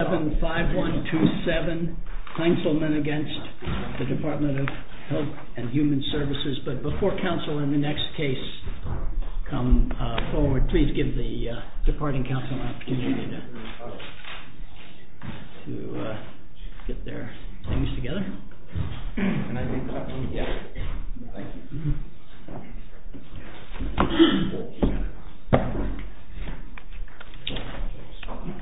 5127 Councilman against the Department of Health and Human Services, but before counsel in the next case come forward please give the departing counsel an opportunity to get their things together. Ms.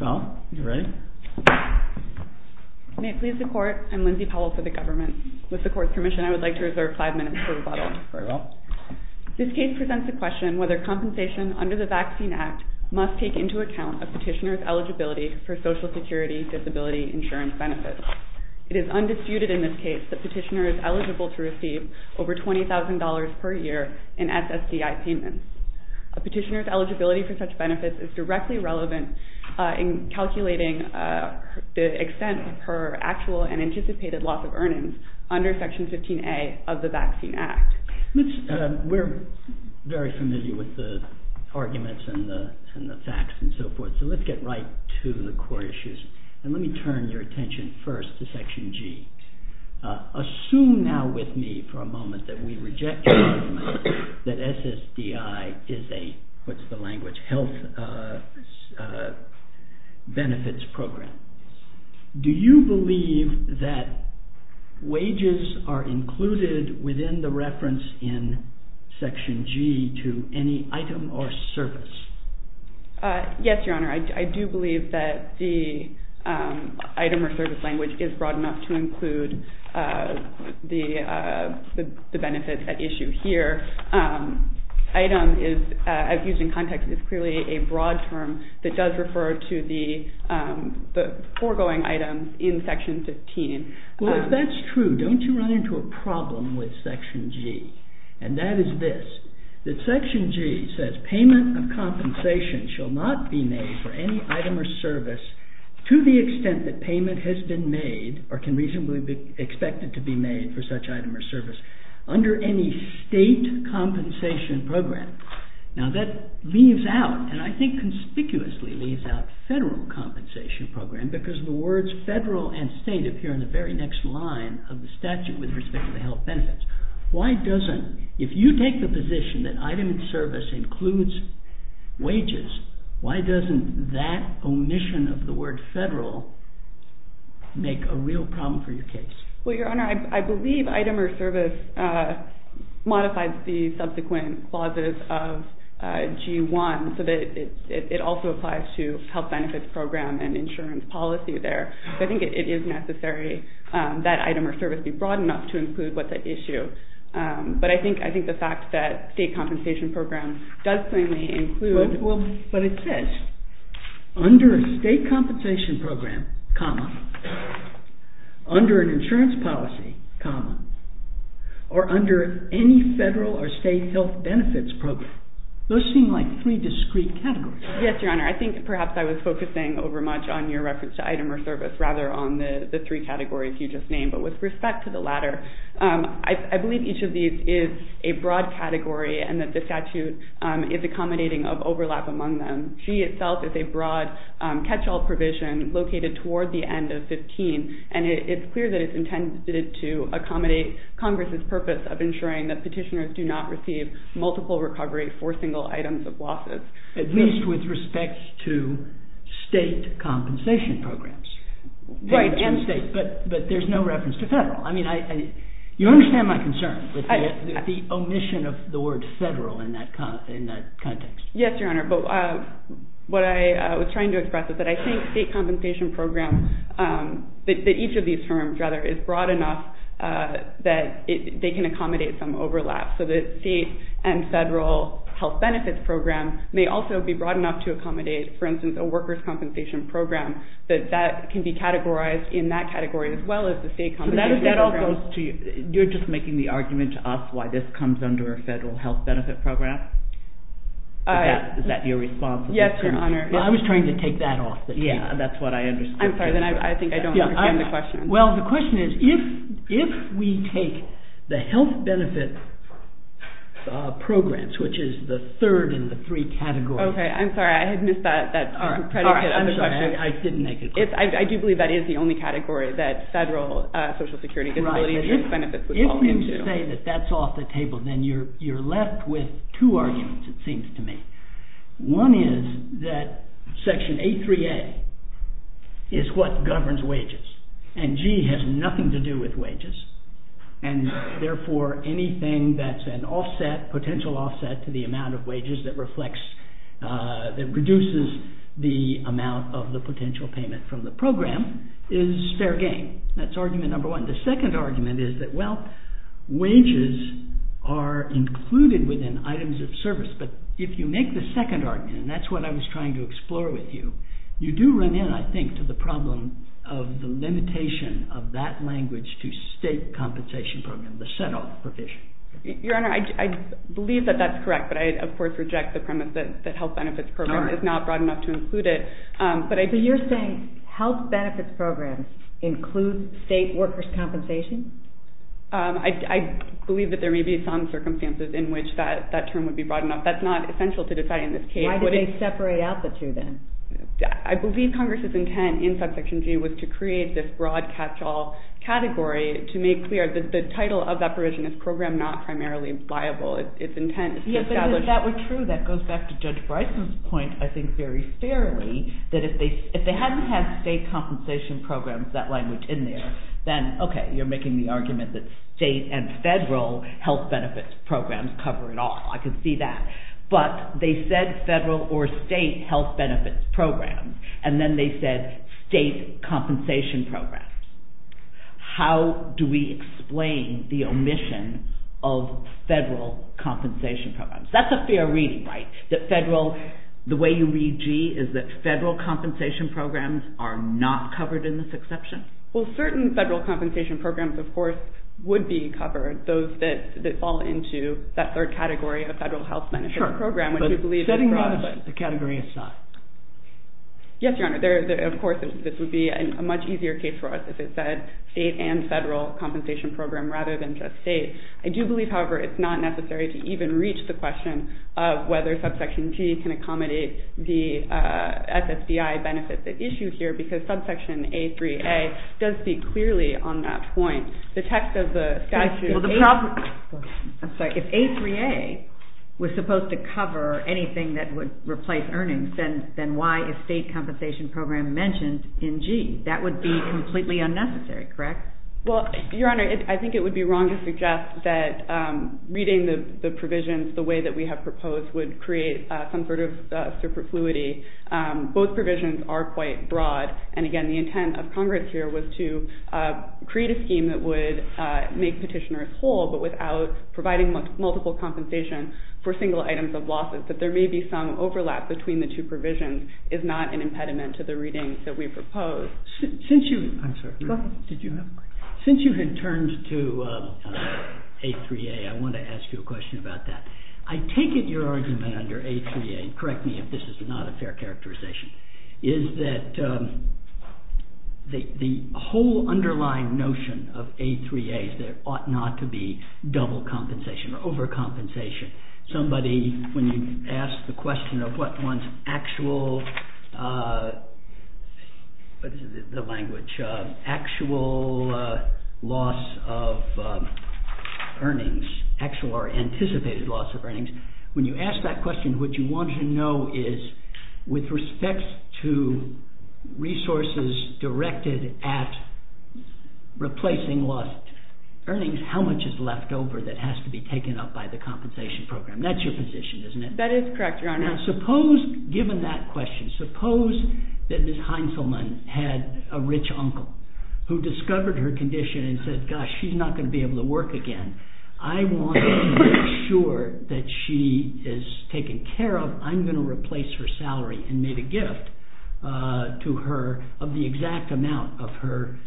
Powell, are you ready? May it please the court, I'm Lindsay Powell for the government. With the court's permission I would like to reserve five minutes for rebuttal. Very well. This case presents the question whether compensation under the Vaccine Act must take into account a petitioner's eligibility for Social Security Disability Insurance benefits. It is undisputed in this case that the petitioner is eligible to receive over $20,000 per year in SSDI payments. A petitioner's eligibility for such benefits is directly relevant in calculating the extent of her actual and anticipated loss of earnings under Section 15A of the Vaccine Act. We're very familiar with the arguments and the facts and so forth, so let's get right to the core issues. And let me turn your attention first to Section G. Assume now with me for a moment that we reject the argument that SSDI is a, what's the language, health benefits program. Do you believe that wages are included within the reference in Section G to any item or service? Yes, Your Honor. I do believe that the item or service language is broad enough to include the benefits at issue here. Item is, as used in context, is clearly a broad term that does not refer to the foregoing item in Section 15. Well, if that's true, don't you run into a problem with Section G? And that is this, that Section G says payment of compensation shall not be made for any item or service to the extent that payment has been made or can reasonably be expected to be made for such item or service under any state compensation program. Now that leaves out, and I think it conspicuously leaves out federal compensation program because the words federal and state appear in the very next line of the statute with respect to the health benefits. Why doesn't, if you take the position that item and service includes wages, why doesn't that omission of the word federal make a real problem for your case? Well, Your Honor, I believe item or service modifies the subsequent clauses of G1 so that it also applies to health benefits program and insurance policy there. So I think it is necessary that item or service be broad enough to include what's at issue. But I think the fact that state compensation program does clearly include... Well, but it says, under a state compensation program, comma, under an insurance policy, comma, or under any federal or state health benefits program. Those seem like three discrete categories. Yes, Your Honor. I think perhaps I was focusing over much on your reference to item or service rather on the three categories you just named. But with respect to the latter, I believe each of these is a broad category and that the statute is accommodating of overlap among them. G itself is a broad catch-all provision located toward the end of 15, and it's clear that it's intended to accommodate Congress's purpose of ensuring that petitioners do not receive multiple recovery for single items of losses. At least with respect to state compensation programs. Right, and state. But there's no reference to federal. I mean, you understand my concern with the omission of the word federal in that context. Yes, Your Honor. But what I was trying to express is that I think state compensation programs, that each of these terms, rather, is broad enough that they can accommodate some overlap. So the state and federal health benefits program may also be broad enough to accommodate, for instance, a workers' compensation program, that that can be categorized in that category as well as the state compensation program. So that all goes to, you're just making the argument to us why this comes under a federal health benefit program? Is that your response? Yes, Your Honor. I was trying to take that off the table. Yeah, that's what I understood. I'm sorry, then I think I don't understand the question. Well, the question is, if we take the health benefit programs, which is the third in the three categories. Okay, I'm sorry, I had missed that. I'm sorry, I didn't make it clear. I do believe that is the only category that federal social security disability benefits would fall into. If you say that that's off the table, then you're left with two arguments, it seems to me. One is that section A3A is what governs wages, and G has nothing to do with wages, and therefore anything that's an offset, potential offset to the amount of wages that reflects, that reduces the amount of the potential payment from the program is fair game. That's argument number one. The second argument is that, well, wages are included within items of service. But if you make the second argument, and that's what I was trying to explore with you, you do run in, I think, to the problem of the limitation of that language to state compensation program, the set-off provision. Your Honor, I believe that that's correct, but I, of course, reject the premise that health benefits program is not broad enough to include it. So you're saying health benefits programs include state workers' compensation? I believe that there may be some circumstances in which that term would be broad enough. That's not essential to deciding this case. Why did they separate out the two, then? I believe Congress's intent in subsection G was to create this broad catch-all category to make clear that the title of that provision is program not primarily liable. Its intent is to establish... If that were true, that goes back to Judge Bryson's point, I think, very fairly, that if they hadn't had state compensation programs, that language, in there, then, okay, you're making the argument that state and federal health benefits programs cover it all. I can see that. But they said federal or state health benefits programs, and then they said state compensation programs. How do we explain the omission of federal compensation programs? That's a fair reading, right? That federal... The way you read G is that federal compensation programs are not covered in this exception? Well, certain federal compensation programs, of course, would be covered. Those that fall into that third category of federal health benefits program, which we believe is broad... Sure. But setting aside the category aside? Yes, Your Honor. Of course, this would be a much easier case for us if it said state and federal compensation program rather than just state. I do believe, however, it's not necessary to even reach the question of whether subsection G can accommodate the SSDI benefits at issue here, because subsection A3A does speak clearly on that point. The text of the statute... Well, the problem... I'm sorry. If A3A was supposed to cover anything that would replace earnings, then why is state compensation program mentioned in G? That would be completely unnecessary, correct? Well, Your Honor, I think it would be wrong to suggest that reading the provisions the way that we have proposed would create some sort of superfluity. Both provisions are quite broad, and again, the intent of Congress here was to create a scheme that would make petitioners whole, but without providing multiple compensation for single items of losses, that there may be some overlap between the two provisions is not an impediment to the readings that we propose. Since you... I'm sorry. Did you have a question? Since you had turned to A3A, I want to ask you a question about that. I take it your argument under A3A, correct me if this is not a fair characterization, is that the whole underlying notion of A3A is there ought not to be double compensation or overcompensation. Somebody, when you ask the question of what one's actual, what is the language, actual loss of earnings, actual or anticipated loss of earnings, when you ask that question, what you want to know is, with respect to resources directed at replacing lost earnings, how much is left over that has to be taken up by the compensation program. That's your position, isn't it? That is correct, Your Honor. Now suppose, given that question, suppose that Ms. Heintzelman had a rich uncle who discovered her condition and said, gosh, she's not going to be able to work again. I want to make sure that she is taken care of. I'm going to replace her salary and made a gift to her of the exact amount of her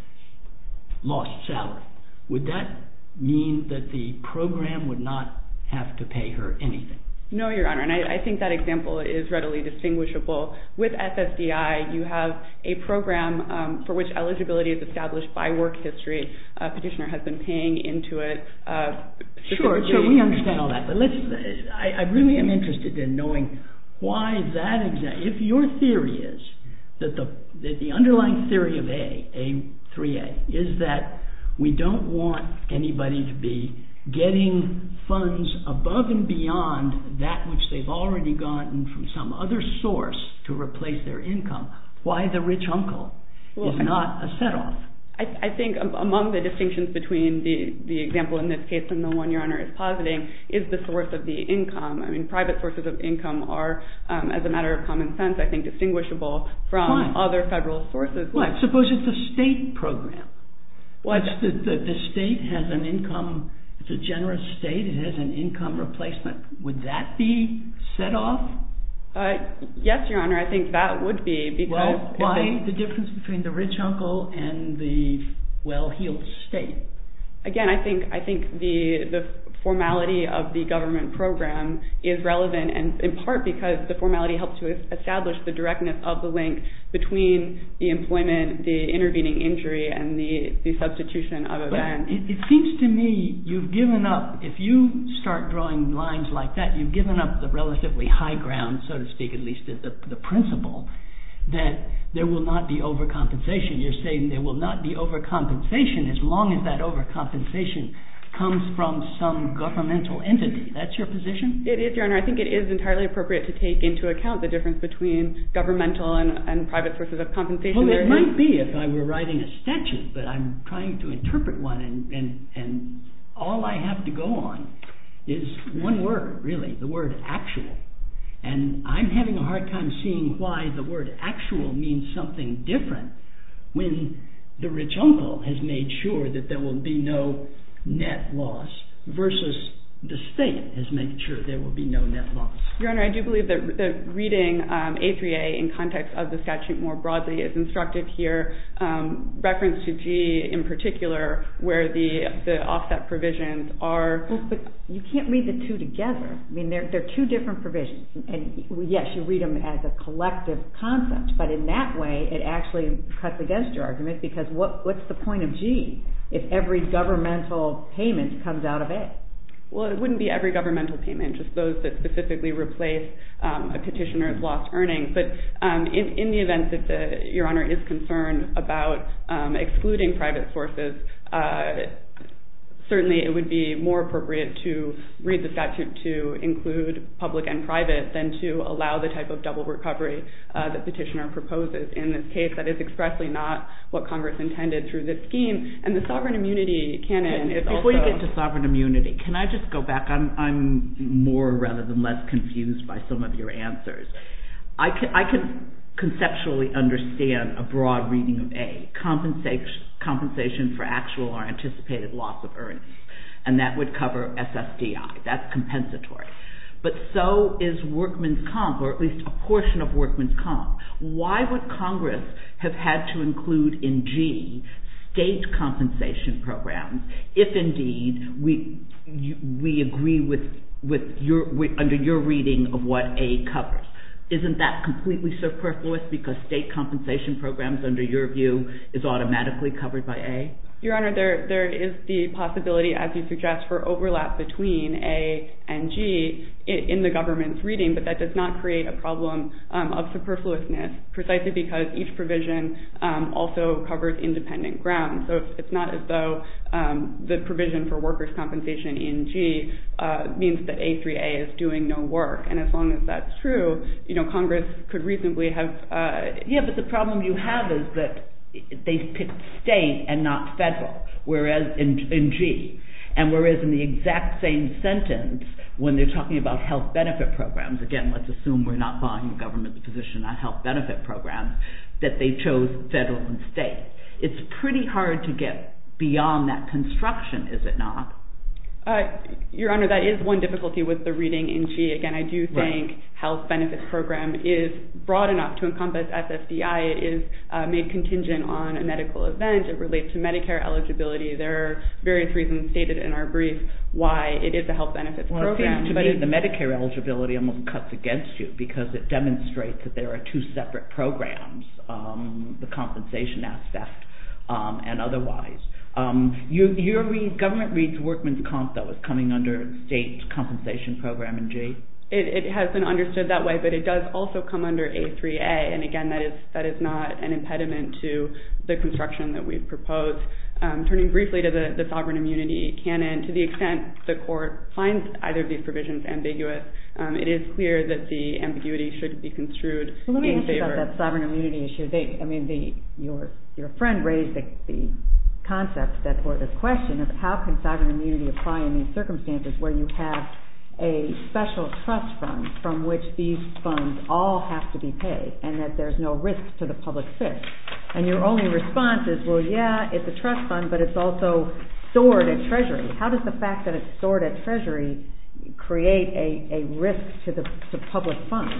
lost salary. Would that mean that the program would not have to pay her anything? No, Your Honor. And I think that example is readily distinguishable. With SSDI, you have a program for which eligibility is established by work history. A petitioner has been paying into it. Sure, sure, we understand all that. But listen, I really am interested in knowing why that, if your theory is that the underlying theory of A, A3A, is that we don't want anybody to be getting funds above and beyond that which they've already gotten from some other source to replace their income. Why the rich uncle is not a set-off? I think among the distinctions between the example in this case and the one Your Honor is positing is the source of the income. I mean, private sources of income are, as a matter of common sense, I think, distinguishable from other federal sources. Suppose it's a state program. The state has an income, it's a generous state, it has an income replacement. Would that be set-off? Yes, Your Honor, I think that would be. Why the difference between the rich uncle and the well-heeled state? Again, I think the formality of the government program is relevant in part because the formality helps to establish the directness of the link between the employment, the intervening injury, and the substitution of events. But it seems to me you've given up, if you start drawing lines like that, you've given up the relatively high ground, so to speak, at least the principle that there will not be overcompensation. You're saying there will not be overcompensation as long as that overcompensation comes from some governmental entity. That's your position? It is, Your Honor. I think it is entirely appropriate to take into account the difference between governmental and private sources of compensation. Well, it might be if I were writing a statute, but I'm trying to interpret one, and all I have to go on is one word, really, the word actual. And I'm having a hard time seeing why the word actual means something different when the rich uncle has made sure that there will be no net loss versus the state has made sure there will be no net loss. Your Honor, I do believe that reading A3A in context of the statute more broadly is instructive here, reference to G in particular, where the offset provisions are... But you can't read the two together. I mean, they're two different provisions. And yes, you read them as a collective concept, but in that way, it actually cuts against your argument because what's the point of G if every governmental payment comes out of it? Well, it wouldn't be every governmental payment, just those that specifically replace a petitioner's lost earnings. But in the event that Your Honor is concerned about excluding private sources, certainly it would be more appropriate to read the statute to include public and private than to allow the type of double recovery that petitioner proposes. In this case, that is expressly not what Congress intended through this scheme, and the sovereign immunity canon is also... Before you get to sovereign immunity, can I just go back? I'm more rather than less confused by some of your answers. I can conceptually understand a broad reading of A, compensation for actual or anticipated loss of earnings, and that would cover SSDI. That's compensatory. But so is workman's comp, or at least a portion of workman's comp. Why would Congress have had to include in G state compensation programs if indeed we agree under your reading of what A covers? Isn't that completely superfluous because state compensation programs, under your view, is automatically covered by A? Your Honor, there is the possibility, as you suggest, but that does not create a problem of superfluousness, precisely because each provision also covers independent ground. So it's not as though the provision for workers' compensation in G means that A3A is doing no work. And as long as that's true, Congress could reasonably have... Yes, but the problem you have is that they picked state and not federal in G. And whereas in the exact same sentence, when they're talking about health benefit programs, again, let's assume we're not following the government's position on health benefit programs, that they chose federal and state. It's pretty hard to get beyond that construction, is it not? Your Honor, that is one difficulty with the reading in G. Again, I do think health benefit program is broad enough to encompass SSDI. It is made contingent on a medical event. It relates to Medicare eligibility. There are various reasons stated in our brief why it is a health benefit program. Well, it seems to me the Medicare eligibility almost cuts against you because it demonstrates that there are two separate programs, the compensation aspect and otherwise. Your read, government reads workman's comp that was coming under state compensation program in G? It has been understood that way, but it does also come under A3A. And again, that is not an impediment to the construction that we've proposed. Turning briefly to the sovereign immunity canon, to the extent the court finds either of these provisions ambiguous, it is clear that the ambiguity should be construed in favor. Well, let me ask you about that sovereign immunity issue. I mean, your friend raised the concept at that court, the question of how can sovereign immunity apply in these circumstances where you have a special trust fund from which these funds all have to be paid and that there's no risk to the public good. And your only response is, well, yeah, it's a trust fund, but it's also stored at Treasury. How does the fact that it's stored at Treasury create a risk to the public fund?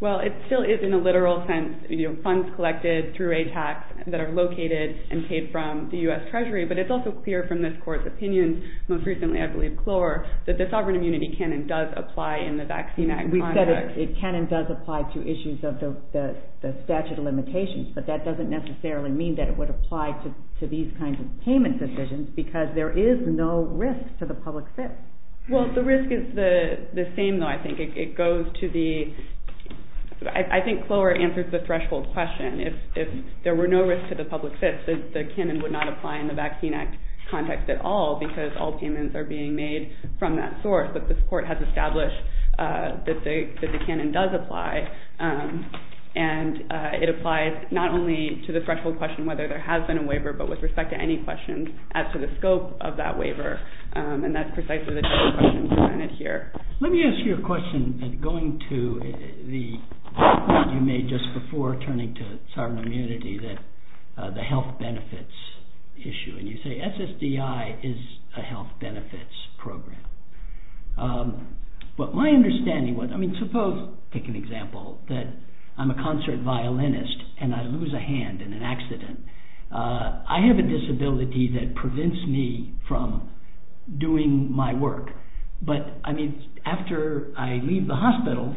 Well, it still is in a literal sense, you know, funds collected through a tax that are located and paid from the U.S. Treasury, but it's also clear from this court's opinion, most recently, I believe, Clore, that the sovereign immunity canon does apply in the vaccine act context. We've said it can and does apply to issues of the statute of limitations, but that doesn't necessarily mean that it would apply to these kinds of payment decisions because there is no risk to the public fit. Well, the risk is the same, though, I think. It goes to the – I think Clore answers the threshold question. If there were no risk to the public fit, the canon would not apply in the vaccine act context at all because all payments are being made from that source. But this court has established that the canon does apply, and it applies not only to the threshold question whether there has been a waiver, but with respect to any questions as to the scope of that waiver, and that's precisely the type of question presented here. Let me ask you a question going to the argument you made just before turning to sovereign immunity that the health benefits issue, and you say SSDI is a health benefits program. But my understanding was – I mean, suppose, take an example, that I'm a concert violinist and I lose a hand in an accident. I have a disability that prevents me from doing my work, but, I mean, after I leave the hospital,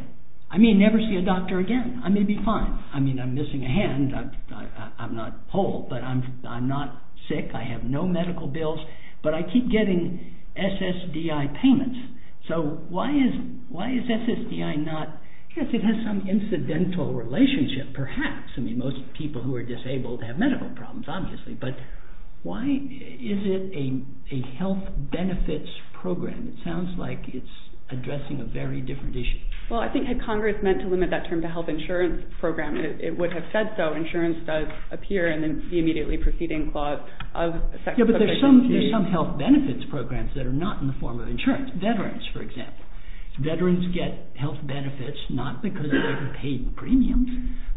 I may never see a doctor again. I may be fine. I mean, I'm missing a hand. I'm not whole, but I'm not sick. I have no medical bills. But I keep getting SSDI payments. So why is SSDI not – I guess it has some incidental relationship, perhaps. I mean, most people who are disabled have medical problems, obviously. But why is it a health benefits program? It sounds like it's addressing a very different issue. Well, I think had Congress meant to limit that term to health insurance program, it would have said so. Insurance does appear in the immediately preceding clause of the section. Yeah, but there's some health benefits programs that are not in the form of insurance. Veterans, for example. Veterans get health benefits not because of their paid premiums,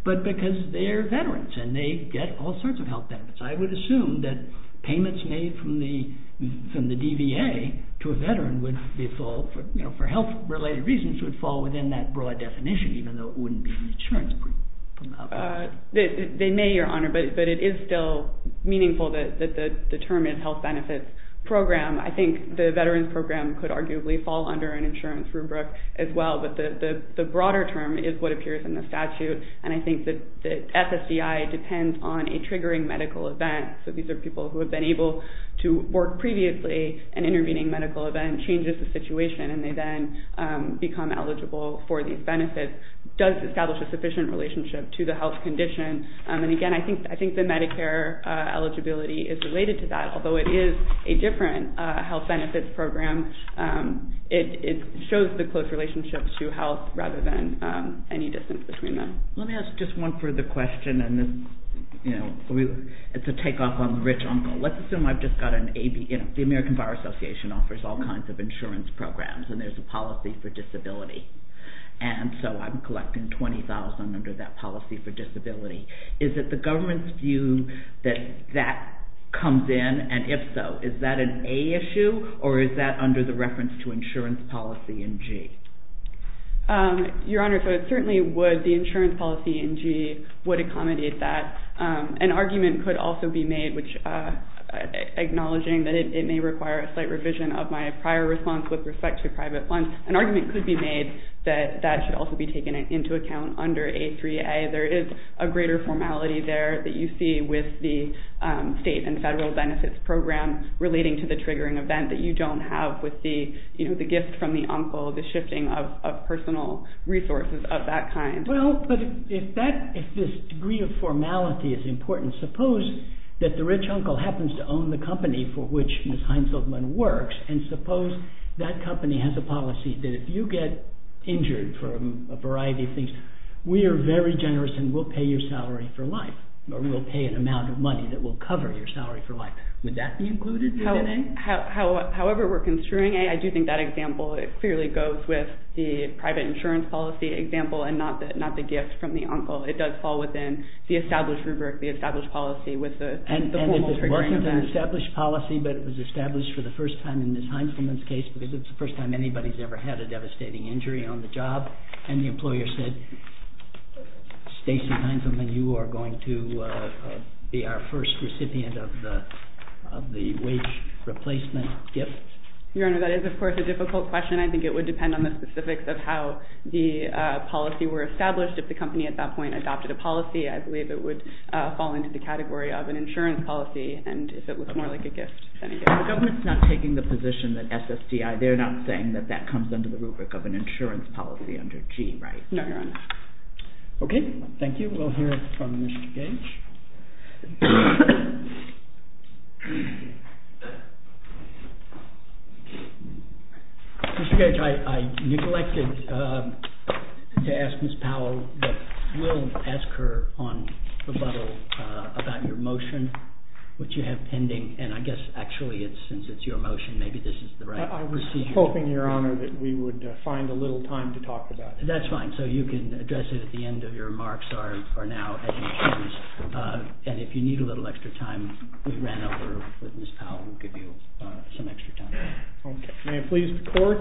but because they're veterans and they get all sorts of health benefits. I would assume that payments made from the DVA to a veteran would fall – for health-related reasons, would fall within that broad definition, even though it wouldn't be insurance premium. They may, Your Honor, but it is still meaningful that the term is health benefits program. I think the veterans program could arguably fall under an insurance rubric as well. But the broader term is what appears in the statute, and I think that SSDI depends on a triggering medical event. So these are people who have been able to work previously, and intervening medical event changes the situation, and they then become eligible for these benefits. It does establish a sufficient relationship to the health condition. And again, I think the Medicare eligibility is related to that. Although it is a different health benefits program, it shows the close relationship to health rather than any distance between them. Let me ask just one further question, and it's a takeoff on the rich uncle. Let's assume I've just got an AB – the American Viral Association offers all kinds of insurance programs, and there's a policy for disability. And so I'm collecting $20,000 under that policy for disability. Is it the government's view that that comes in? And if so, is that an A issue, or is that under the reference to insurance policy in G? Your Honor, so it certainly would. The insurance policy in G would accommodate that. An argument could also be made, acknowledging that it may require a slight revision of my prior response with respect to private funds. An argument could be made that that should also be taken into account under A3A. There is a greater formality there that you see with the state and federal benefits program relating to the triggering event that you don't have with the gift from the uncle, the shifting of personal resources of that kind. Well, but if this degree of formality is important, suppose that the rich uncle happens to own the company for which Ms. Heinzelman works, and suppose that company has a policy that if you get injured from a variety of things, we are very generous and we'll pay your salary for life, or we'll pay an amount of money that will cover your salary for life. Would that be included within A? However we're construing A, I do think that example, it clearly goes with the private insurance policy example and not the gift from the uncle. It does fall within the established rubric, the established policy with the formal triggering event. And if it wasn't an established policy, but it was established for the first time in Ms. Heinzelman's case, because it's the first time anybody's ever had a devastating injury on the job, and the employer said, Stacy Heinzelman, you are going to be our first recipient of the wage replacement gift. Your Honor, that is of course a difficult question. I think it would depend on the specifics of how the policy were established. If the company at that point adopted a policy, I believe it would fall into the category of an insurance policy, and if it was more like a gift than a gift. The government's not taking the position that SSDI, they're not saying that that comes under the rubric of an insurance policy under G, right? No, Your Honor. Okay, thank you. We'll hear from Mr. Gage. Mr. Gage, I neglected to ask Ms. Powell, but we'll ask her on rebuttal about your motion, which you have pending, and I guess, actually, since it's your motion, maybe this is the right... I was hoping, Your Honor, that we would find a little time to talk about it. That's fine. So you can address it at the end of your remarks, or now, at any chance. And if you need a little extra time, we ran over with Ms. Powell. We'll give you some extra time. Okay. May it please the Court,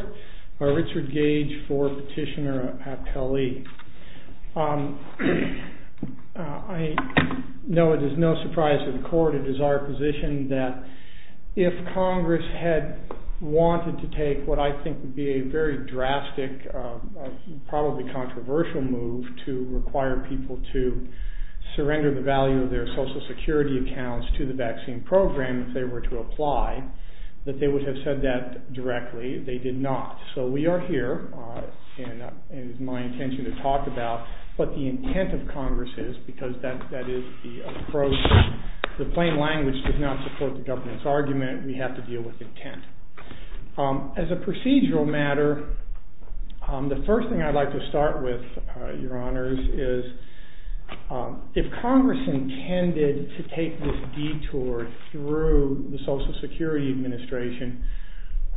Richard Gage for Petitioner Appelli. I know it is no surprise to the Court, it is our position that if Congress had wanted to take what I think would be a very drastic, probably controversial move to require people to surrender the value of their Social Security accounts to the vaccine program if they were to apply, that they would have said that directly. They did not. So we are here, and it is my intention to talk about what the intent of Congress is, because that is the approach. The plain language does not support the government's argument. We have to deal with intent. As a procedural matter, the first thing I'd like to start with, Your Honors, is if Congress intended to take this detour through the Social Security Administration,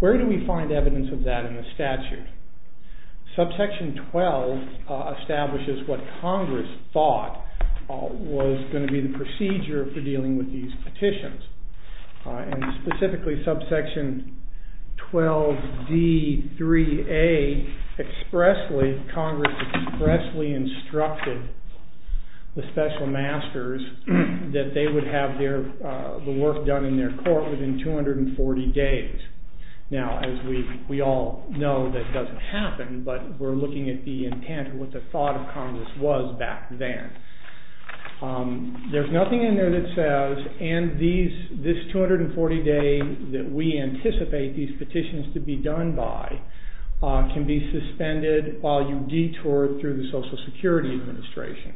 where do we find evidence of that in the statute? Subsection 12 establishes what Congress thought was going to be the procedure for dealing with these petitions. And specifically, Subsection 12D3A expressly, Congress expressly instructed the Special Masters that they would have the work done in their court within 240 days. Now, as we all know, that doesn't happen, but we're looking at the intent, what the thought of Congress was back then. There's nothing in there that says, and this 240 days that we anticipate these petitions to be done by can be suspended while you detour through the Social Security Administration.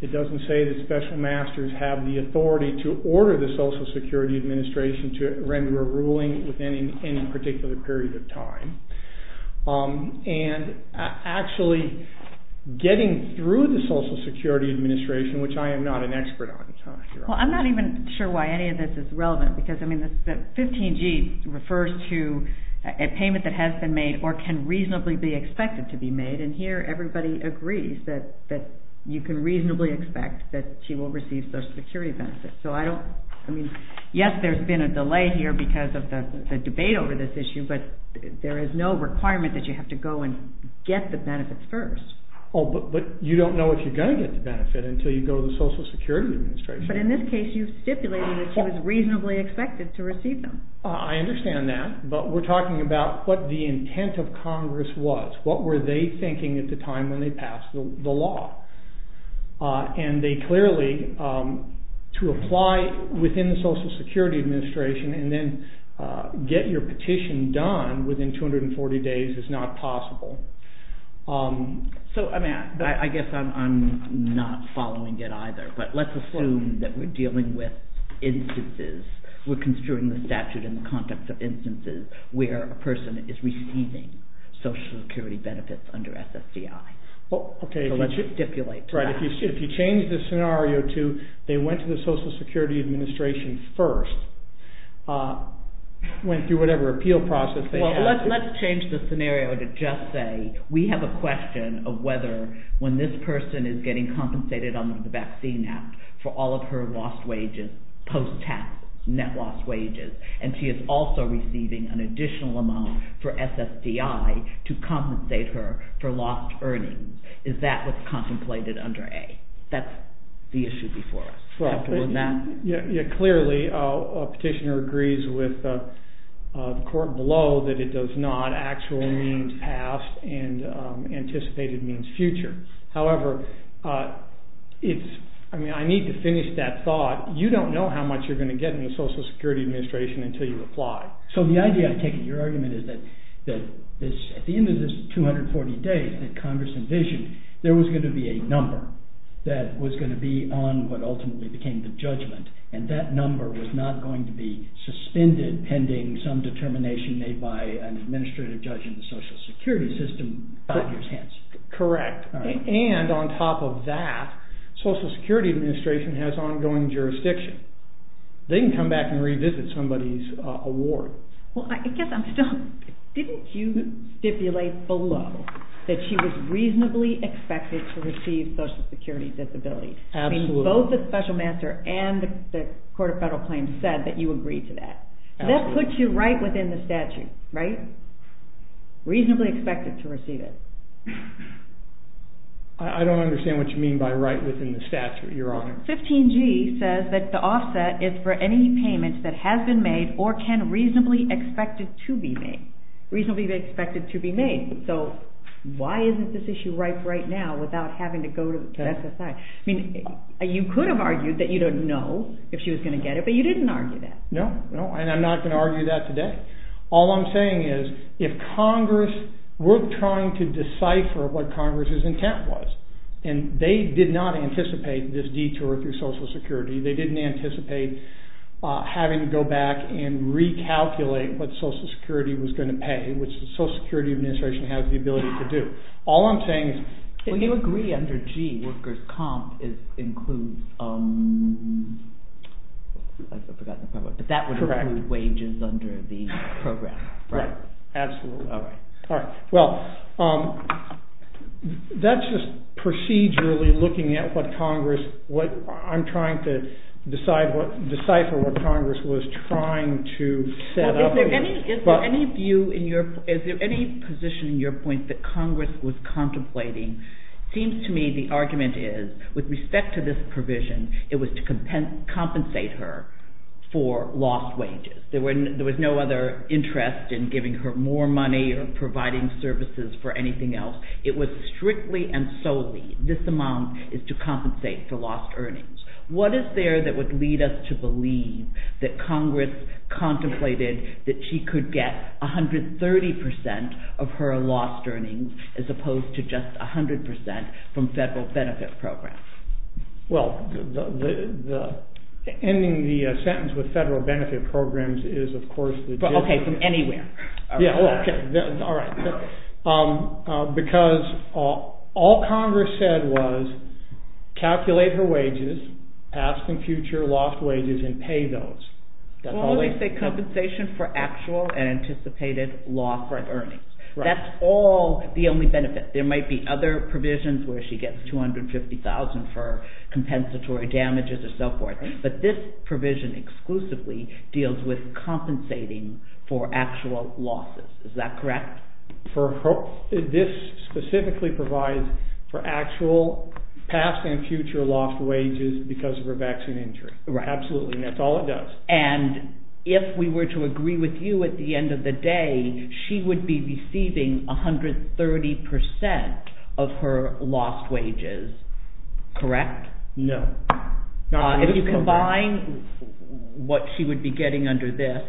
It doesn't say that Special Masters have the authority to order the Social Security Administration to render a ruling within any particular period of time. And actually, getting through the Social Security Administration, which I am not an expert on, Your Honors. Well, I'm not even sure why any of this is relevant, because 15G refers to a payment that has been made or can reasonably be expected to be made, and here everybody agrees that you can reasonably expect that she will receive Social Security benefits. Yes, there's been a delay here because of the debate over this issue, but there is no requirement that you have to go and get the benefits first. Oh, but you don't know if you're going to get the benefit until you go to the Social Security Administration. But in this case, you've stipulated that she was reasonably expected to receive them. I understand that, but we're talking about what the intent of Congress was. What were they thinking at the time when they passed the law? And they clearly, to apply within the Social Security Administration and then get your petition done within 240 days is not possible. So, I guess I'm not following it either, but let's assume that we're dealing with instances. We're construing the statute in the context of instances where a person is receiving Social Security benefits under SSDI. So let's stipulate that. If you change the scenario to they went to the Social Security Administration first, went through whatever appeal process... Let's change the scenario to just say we have a question of whether when this person is getting compensated under the Vaccine Act for all of her lost wages, post-tax net lost wages, and she is also receiving an additional amount for SSDI to compensate her for lost earnings. Is that what's contemplated under A? That's the issue before us. Clearly, a petitioner agrees with the court below that it does not actually mean past and anticipated means future. However, I need to finish that thought. You don't know how much you're going to get in the Social Security Administration until you apply. So the idea, I take it, your argument is that at the end of this 240 days that Congress envisioned, there was going to be a number that was going to be on what ultimately became the judgment, and that number was not going to be suspended pending some determination made by an administrative judge in the Social Security system. Correct. And on top of that, Social Security Administration has ongoing jurisdiction. They can come back and revisit somebody's award. I guess I'm still... Didn't you stipulate below that she was reasonably expected to receive Social Security disability? Absolutely. Both the Special Master and the Court of Federal Claims said that you agreed to that. Absolutely. That puts you right within the statute, right? Reasonably expected to receive it. I don't understand what you mean by right within the statute, Your Honor. 15G says that the offset is for any payment that has been made or can reasonably expected to be made. Reasonably expected to be made. So, why isn't this issue right right now without having to go to SSI? I mean, you could have argued that you don't know if she was going to get it, but you didn't argue that. No, and I'm not going to argue that today. All I'm saying is, if Congress were trying to decipher what Congress's intent was, and they did not anticipate this detour through Social Security, they didn't anticipate having to go back and recalculate what Social Security was going to pay, which the Social Security Administration has the ability to do. All I'm saying is... Well, you agree under G, workers' comp includes... I've forgotten the part about... But that would include wages under the program, right? Absolutely. All right. Well, that's just procedurally looking at what Congress... I'm trying to decipher what Congress was trying to set up. Is there any position in your point that Congress was contemplating... It seems to me the argument is, with respect to this provision, it was to compensate her for lost wages. There was no other interest in giving her more money or providing services for anything else. It was strictly and solely, this amount is to compensate for lost earnings. What is there that would lead us to believe that Congress contemplated that she could get 130% of her lost earnings as opposed to just 100% from federal benefit programs? Well, ending the sentence with federal benefit programs is, of course... Okay, from anywhere. Yeah, okay. All right. Because all Congress said was calculate her wages, past and future lost wages, and pay those. Well, they say compensation for actual and anticipated loss of earnings. That's all the only benefit. There might be other provisions where she gets $250,000 for compensatory damages and so forth, but this provision exclusively deals with compensating for actual losses. Is that correct? This specifically provides for actual past and future lost wages because of her vaccine injury. Absolutely, and that's all it does. And if we were to agree with you at the end of the day, she would be receiving 130% of her lost wages, correct? No. If you combine what she would be getting under this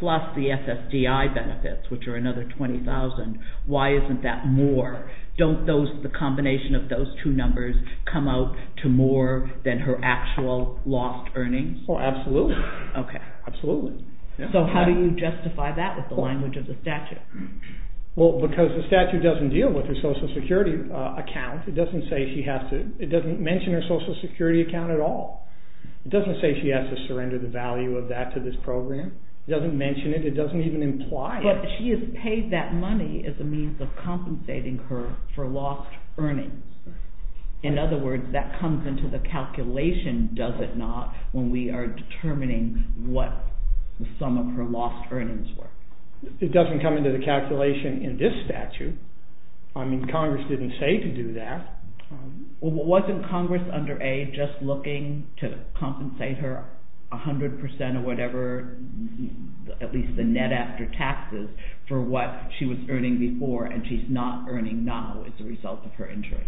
plus the SSDI benefits, which are another $20,000, why isn't that more? Don't the combination of those two numbers come out to more than her actual lost earnings? Absolutely. So how do you justify that with the language of the statute? Because the statute doesn't deal with her social security account. It doesn't mention her social security account at all. It doesn't say she has to surrender the value of that to this program. It doesn't mention it. It doesn't even imply it. But she is paid that money as a means of compensating her for lost earnings. In other words, that comes into the calculation, does it not, when we are determining what the sum of her lost earnings were. It doesn't come into the calculation in this statute. I mean, Congress didn't say to do that. Well, wasn't Congress under aid just looking to compensate her 100% or whatever, at least the net after taxes, for what she was earning before and she's not earning now as a result of her injury.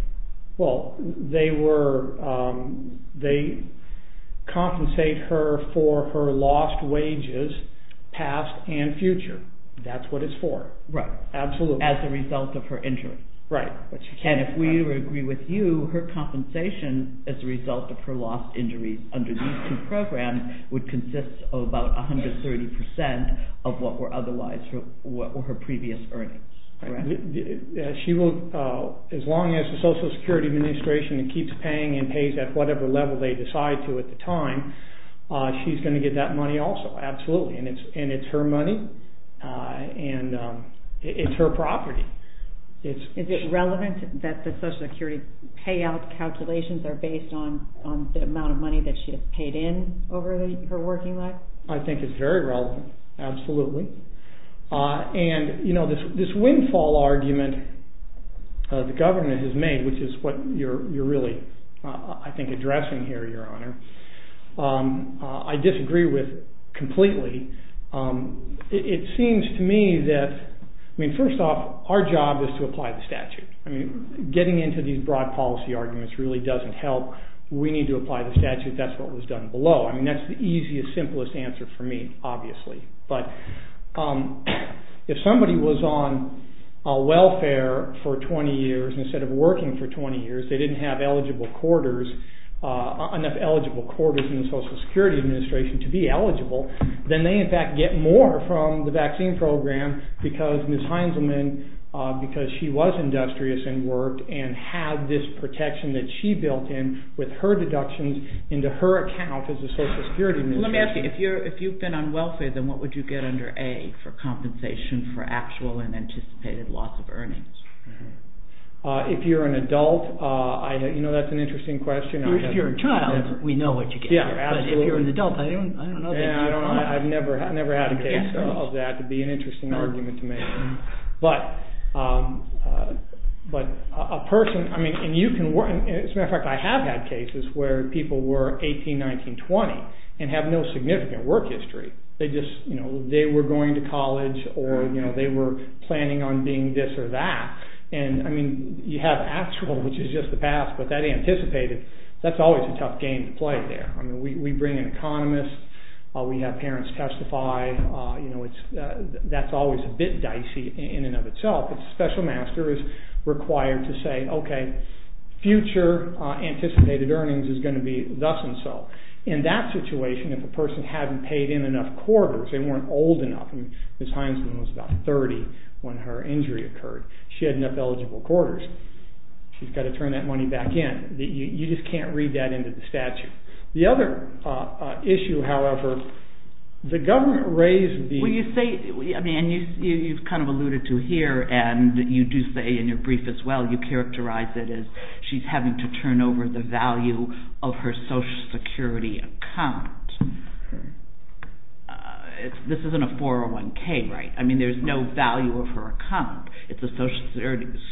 Well, they were, they compensate her for her lost wages, past and future. That's what it's for. Right. Absolutely. As a result of her injury. Right. And if we would agree with you, her compensation as a result of her lost injuries under these two programs would consist of about 130% of what were otherwise her previous earnings. She will, as long as the Social Security Administration keeps paying and pays at whatever level they decide to at the time, she's going to get that money also. Absolutely. And it's her money and it's her property. Is it relevant that the Social Security payout calculations are based on the amount of money that she has paid in over her working life? I think it's very relevant. Absolutely. And, you know, this windfall argument the government has made, which is what you're really, I think, addressing here, Your Honor, I disagree with completely. It seems to me that, I mean, first off, our job is to apply the statute. I mean, getting into these broad policy arguments really doesn't help. We need to apply the statute. That's what was done below. I mean, that's the easiest, simplest answer for me, obviously. But if somebody was on welfare for 20 years instead of working for 20 years, they didn't have eligible quarters, enough eligible quarters in the Social Security Administration to be eligible, then they, in fact, get more from the vaccine program because Ms. Heinzelman, because she was industrious and worked and had this protection that she built in with her deductions into her account as the Social Security Administration. Let me ask you, if you've been on welfare, then what would you get under A for compensation for actual and anticipated loss of earnings? If you're an adult, you know, that's an interesting question. If you're a child, we know what you get. Yeah, absolutely. But if you're an adult, I don't know. I've never had a case of that. It'd be an interesting argument to make. But a person, I mean, and you can, as a matter of fact, I have had cases where people were 18, 19, 20 and have no significant work history. They just, you know, they were going to college or, you know, they were planning on being this or that. And, I mean, you have actual, which is just the past, but that anticipated, that's always a tough game to play there. I mean, we bring an economist, we have parents testify, you know, that's always a bit dicey in and of itself. A special master is required to say, okay, future anticipated earnings is going to be thus and so. In that situation, if a person hadn't paid in enough quarters, they weren't old enough. Ms. Heinsman was about 30 when her injury occurred. She had enough eligible quarters. She's got to turn that money back in. You just can't read that into the statute. The other issue, however, the government raised the... Well, you say, I mean, and you've kind of alluded to here and you do say in your brief as well, you characterize it as she's having to turn over the value of her social security account. This isn't a 401k, right? I mean, there's no value of her account. It's a social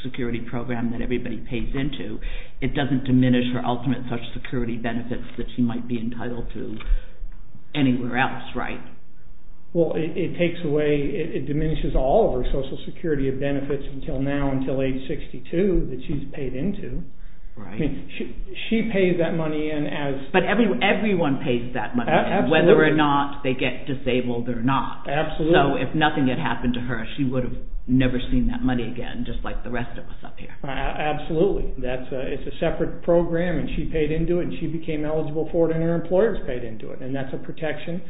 security program that everybody pays into. It doesn't diminish her ultimate social security benefits that she might be entitled to anywhere else, right? Well, it takes away, it diminishes all of her social security benefits until now, until age 62 that she's paid into. She pays that money in as... But everyone pays that money in, whether or not they get disabled or not. Absolutely. So if nothing had happened to her, she would have never seen that money again just like the rest of us up here. Absolutely. It's a separate program and she paid into it and she became eligible for it and her employers paid into it. And that's a protection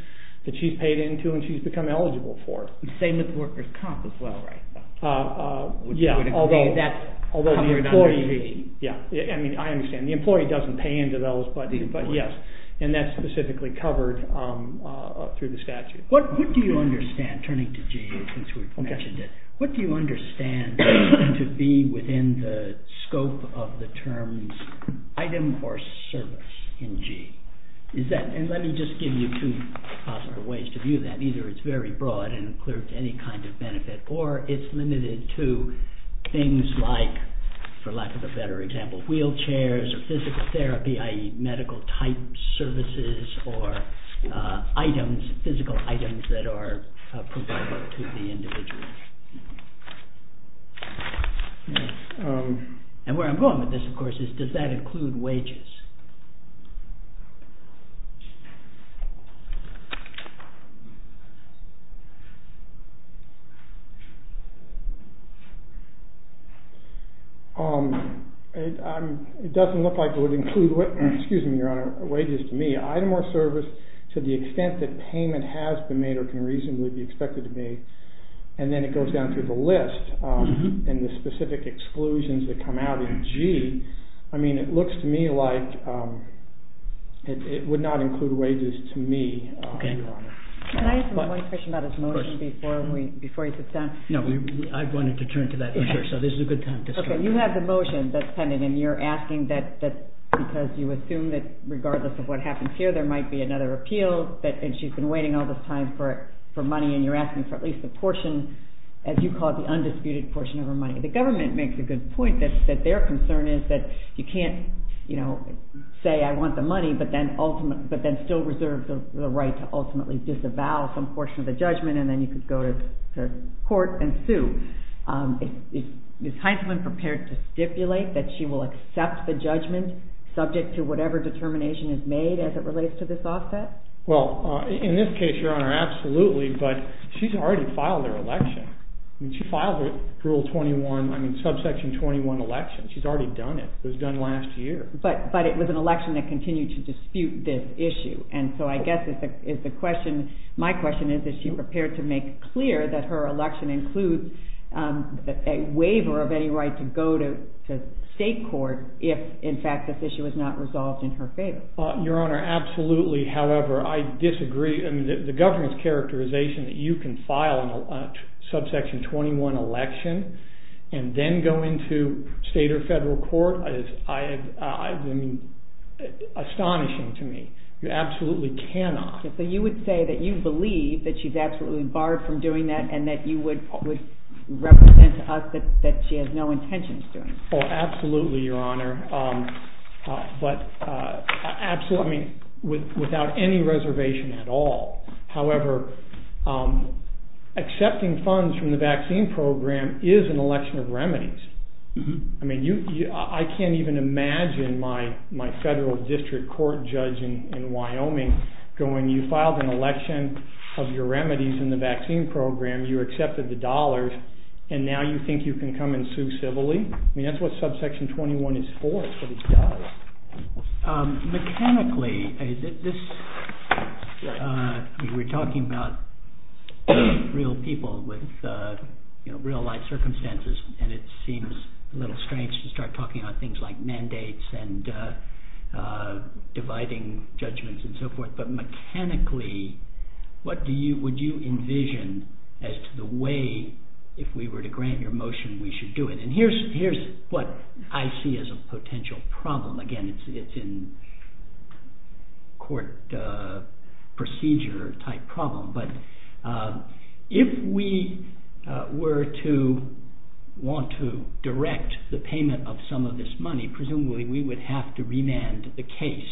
that she's paid into and she's become eligible for. Same with workers' comp as well, right? Yeah, although... Yeah, I mean, I understand. The employee doesn't pay into those, but yes, and that's specifically covered through the statute. What do you understand, turning to G, since we've mentioned it, what do you understand to be within the scope of the terms item or service in G? And let me just give you two possible ways to view that. Either it's very broad and includes any kind of benefit or it's limited to things like, for lack of a better example, wheelchairs or physical therapy, i.e. medical type services or items, physical items that are providable to the individual. And where I'm going with this, of course, is does that include wages? It doesn't look like it would include, excuse me, Your Honor, wages to me. Item or service, to the extent that payment has been made or can reasonably be expected to be, and then it goes down through the list and the specific exclusions that come out in G, I mean, it looks to me like it would not include wages to me, Your Honor. Can I ask one question about his motion before he sits down? No, I wanted to turn to that issue, so this is a good time to start. You have the motion that's pending and you're asking that because you assume that regardless of what happens here there might be another appeal and she's been waiting all this time for money and you're asking for at least a portion, as you call it, the undisputed portion of her money. The government makes a good point that their concern is that you can't, you know, say I want the money but then still reserve the right to ultimately disavow some portion of the judgment and then you could go to court and sue. Is Hinesman prepared to stipulate that she will accept the judgment subject to whatever determination is made as it relates to this offset? Well, in this case, Your Honor, absolutely, but she's already filed her election. She filed her Rule 21, I mean, Subsection 21 election. She's already done it. It was done last year. But it was an election that continued to dispute this issue and so I guess it's a question, my question is is she prepared to make clear that her election includes a waiver of any right to go to state court if, in fact, this issue is not resolved in her favor? Your Honor, absolutely. However, I disagree. The government's characterization that you can file a Subsection 21 election and then go into state or federal court is astonishing to me. You absolutely cannot. So you would say that you believe that she's absolutely barred from doing that and that you would represent to us that she has no intention of doing it? Oh, absolutely, Your Honor. But, absolutely, without any reservation at all. However, accepting funds from the vaccine program is an election of remedies. I mean, I can't even imagine my federal district court judge in Wyoming going, you filed an election of your remedies in the vaccine program, you accepted the dollars, and now you think you can come and sue civilly? I mean, that's what Subsection 21 is for. It's what it does. Mechanically, we're talking about real people with real-life circumstances and it seems a little strange to start talking about things like mandates and dividing judgments and so forth, but mechanically, what would you envision as to the way, if we were to grant your motion, we should do it? And here's what I see as a potential problem. Again, it's in court procedure type problem, but if we were to want to direct the payment of some of this money, presumably we would have to remand the case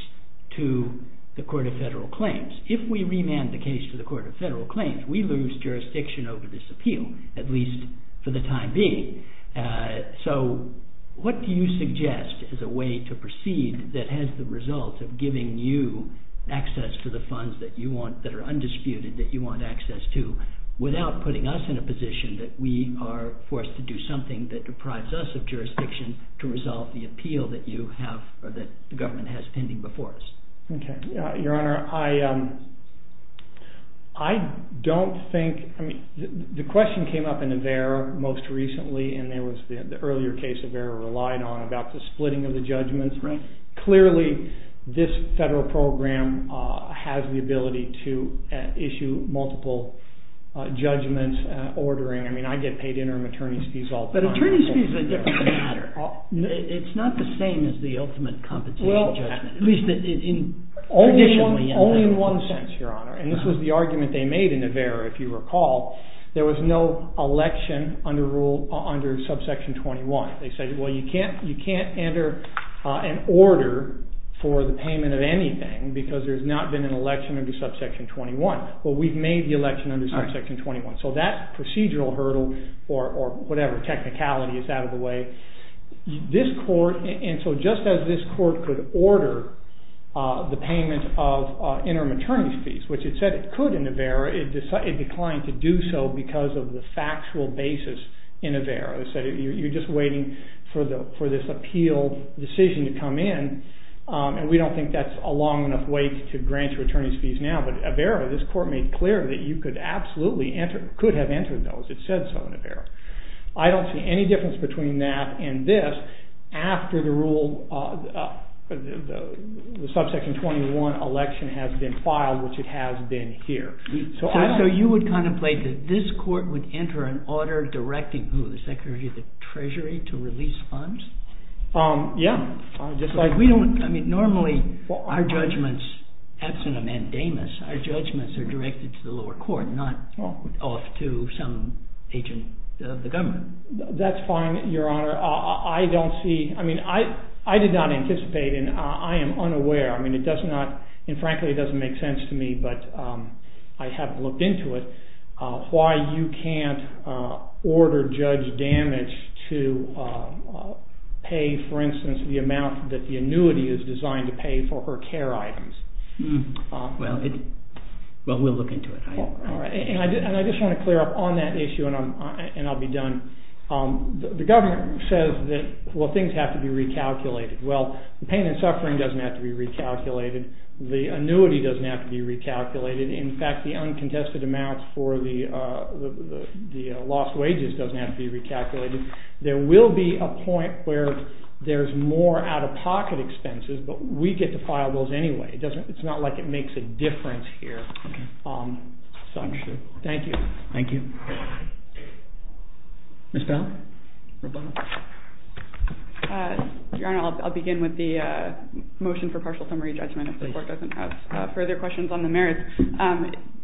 to the Court of Federal Claims. If we remand the case to the Court of Federal Claims, we lose jurisdiction over this appeal, at least for the time being. So, what do you suggest as a way to proceed that has the result of giving you access to the funds that you want, that are undisputed, that you want access to, without putting us in a position that we are forced to do something that deprives us of jurisdiction to resolve the appeal that the government has pending before us? Your Honor, I don't think, the question came up in AVERA most recently, and there was the earlier case AVERA relied on about the splitting of the judgments. Clearly, this federal program has the ability to issue multiple judgments, ordering, I mean, I get paid interim attorney's fees all the time. But attorney's fees are a different matter. It's not the same as the ultimate compensation judgment. At least, only in one sense, Your Honor. And this was the argument they made in AVERA, if you recall. There was no election under subsection 21. They said, well, you can't enter an order for the payment of anything, because there's not been an election under subsection 21. Well, we've made the election under subsection 21. So, that procedural hurdle, or whatever, technicality is out of the way, this court, and so just as this court could order the payment of interim attorney's fees, which it said it could in AVERA, it declined to do so because of the factual basis in AVERA. They said, you're just waiting for this appeal decision to come in, and we don't think that's a long enough wait to grant your attorney's fees now. But AVERA, this court made clear that you could absolutely enter, could have entered those. It said so in AVERA. I don't see any difference between that and this, after the rule, the subsection 21 election has been filed, which it has been here. So, you would contemplate that this court would enter an order directing who, the Secretary of the Treasury, to release funds? Yeah. Just like we don't, I mean, normally, our judgments, absent a mandamus, our judgments are directed to the lower court, not off to some agent of the government. That's fine, Your Honor. I don't see, I mean, I did not anticipate, and I am unaware, I mean, it does not, and frankly, it doesn't make sense to me, but I have looked into it, why you can't order judge damage to pay, for instance, the amount that the annuity is designed to pay for her care items. Well, we'll look into it. And I just want to clear up on that issue, and I'll be done. The government says that, well, things have to be recalculated. Well, the pain and suffering doesn't have to be recalculated. The annuity doesn't have to be recalculated. In fact, the uncontested amounts for the lost wages doesn't have to be recalculated. There will be a point where there's more out-of-pocket expenses, but we get to file those anyway. It's not like it makes a difference here. Thank you. Thank you. Ms. Bell? Your Honor, I'll begin with the motion for partial summary judgment if the court doesn't have further questions on the merits.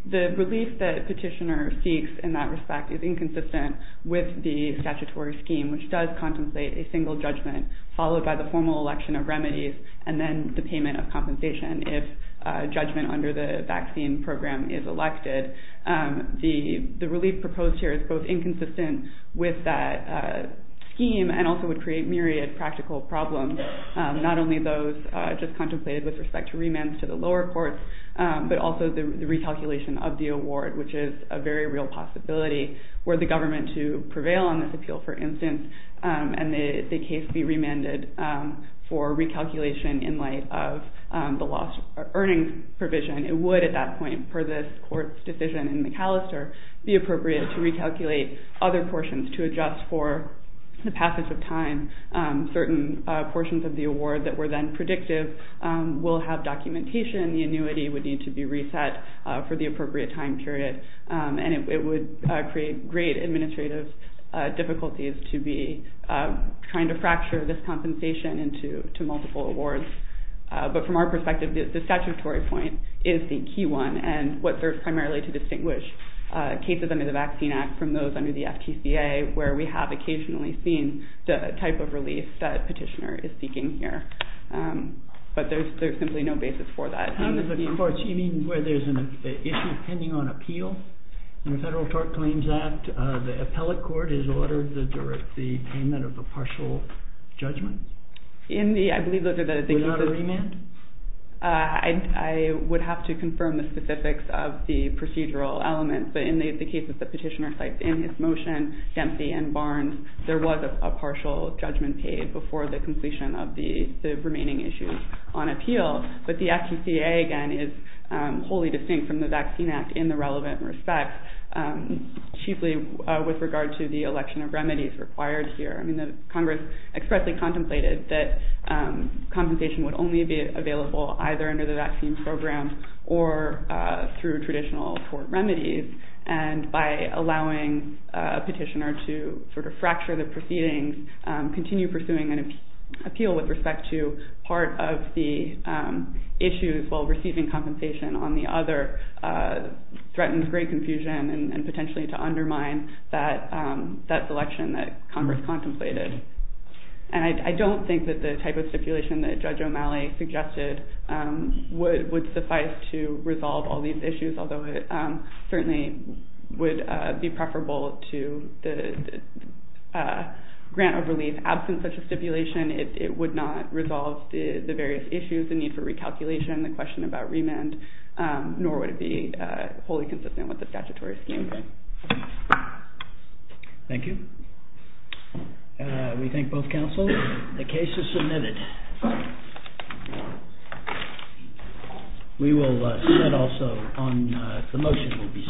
The relief that Petitioner seeks in that respect is inconsistent with the statutory scheme, which does contemplate a single judgment followed by the formal election of remedies and then the payment of compensation if a judgment under the vaccine program is elected. The relief proposed here is both inconsistent with that scheme and also would create myriad practical problems, not only those just contemplated with respect to remands to the lower courts, but also the recalculation of the award, which is a very real possibility were the government to prevail on this appeal, for instance, and the case be remanded for recalculation in light of the lost earnings provision. It would, at that point, per this court's decision in the Callister, be appropriate to recalculate other portions to adjust for the passage of time. Certain portions of the award that were then predictive will have documentation. The annuity would need to be reset for the appropriate time period. And it would create great administrative difficulties to be trying to fracture this compensation into multiple awards. But from our perspective, the statutory point is the key one, and what serves primarily to distinguish cases under the Vaccine Act from those under the FTCA, where we have occasionally seen the type of relief that Petitioner is seeking here. But there's simply no basis for that. In the courts, you mean where there's an issue pending on appeal in the Federal Tort Claims Act, the appellate court has ordered the payment of a partial judgment? I believe those are the cases. Without a remand? I would have to confirm the specifics of the procedural elements. But in the case of the petitioner cited in his motion, Dempsey and Barnes, there was a partial judgment paid before the completion of the remaining issues on appeal. But the FTCA, again, is wholly distinct from the Vaccine Act in the relevant respects, chiefly with regard to the election of remedies required here. I mean, Congress expressly contemplated that compensation would only be available either under the vaccine program or through traditional court remedies. And by allowing a petitioner to sort of fracture the proceedings, continue pursuing an appeal with respect to part of the issues while receiving compensation on the other, threatens great confusion and potentially to undermine that selection that Congress contemplated. And I don't think that the type of stipulation that Judge O'Malley suggested would suffice to resolve all these issues, although it certainly would be preferable to the grant of relief. Absent such a stipulation, it would not resolve the various issues, the need for recalculation, the question about remand, nor would it be wholly consistent with the statutory scheme. Thank you. We thank both counsels. The case is submitted. We will also, the motion will be submitted as well.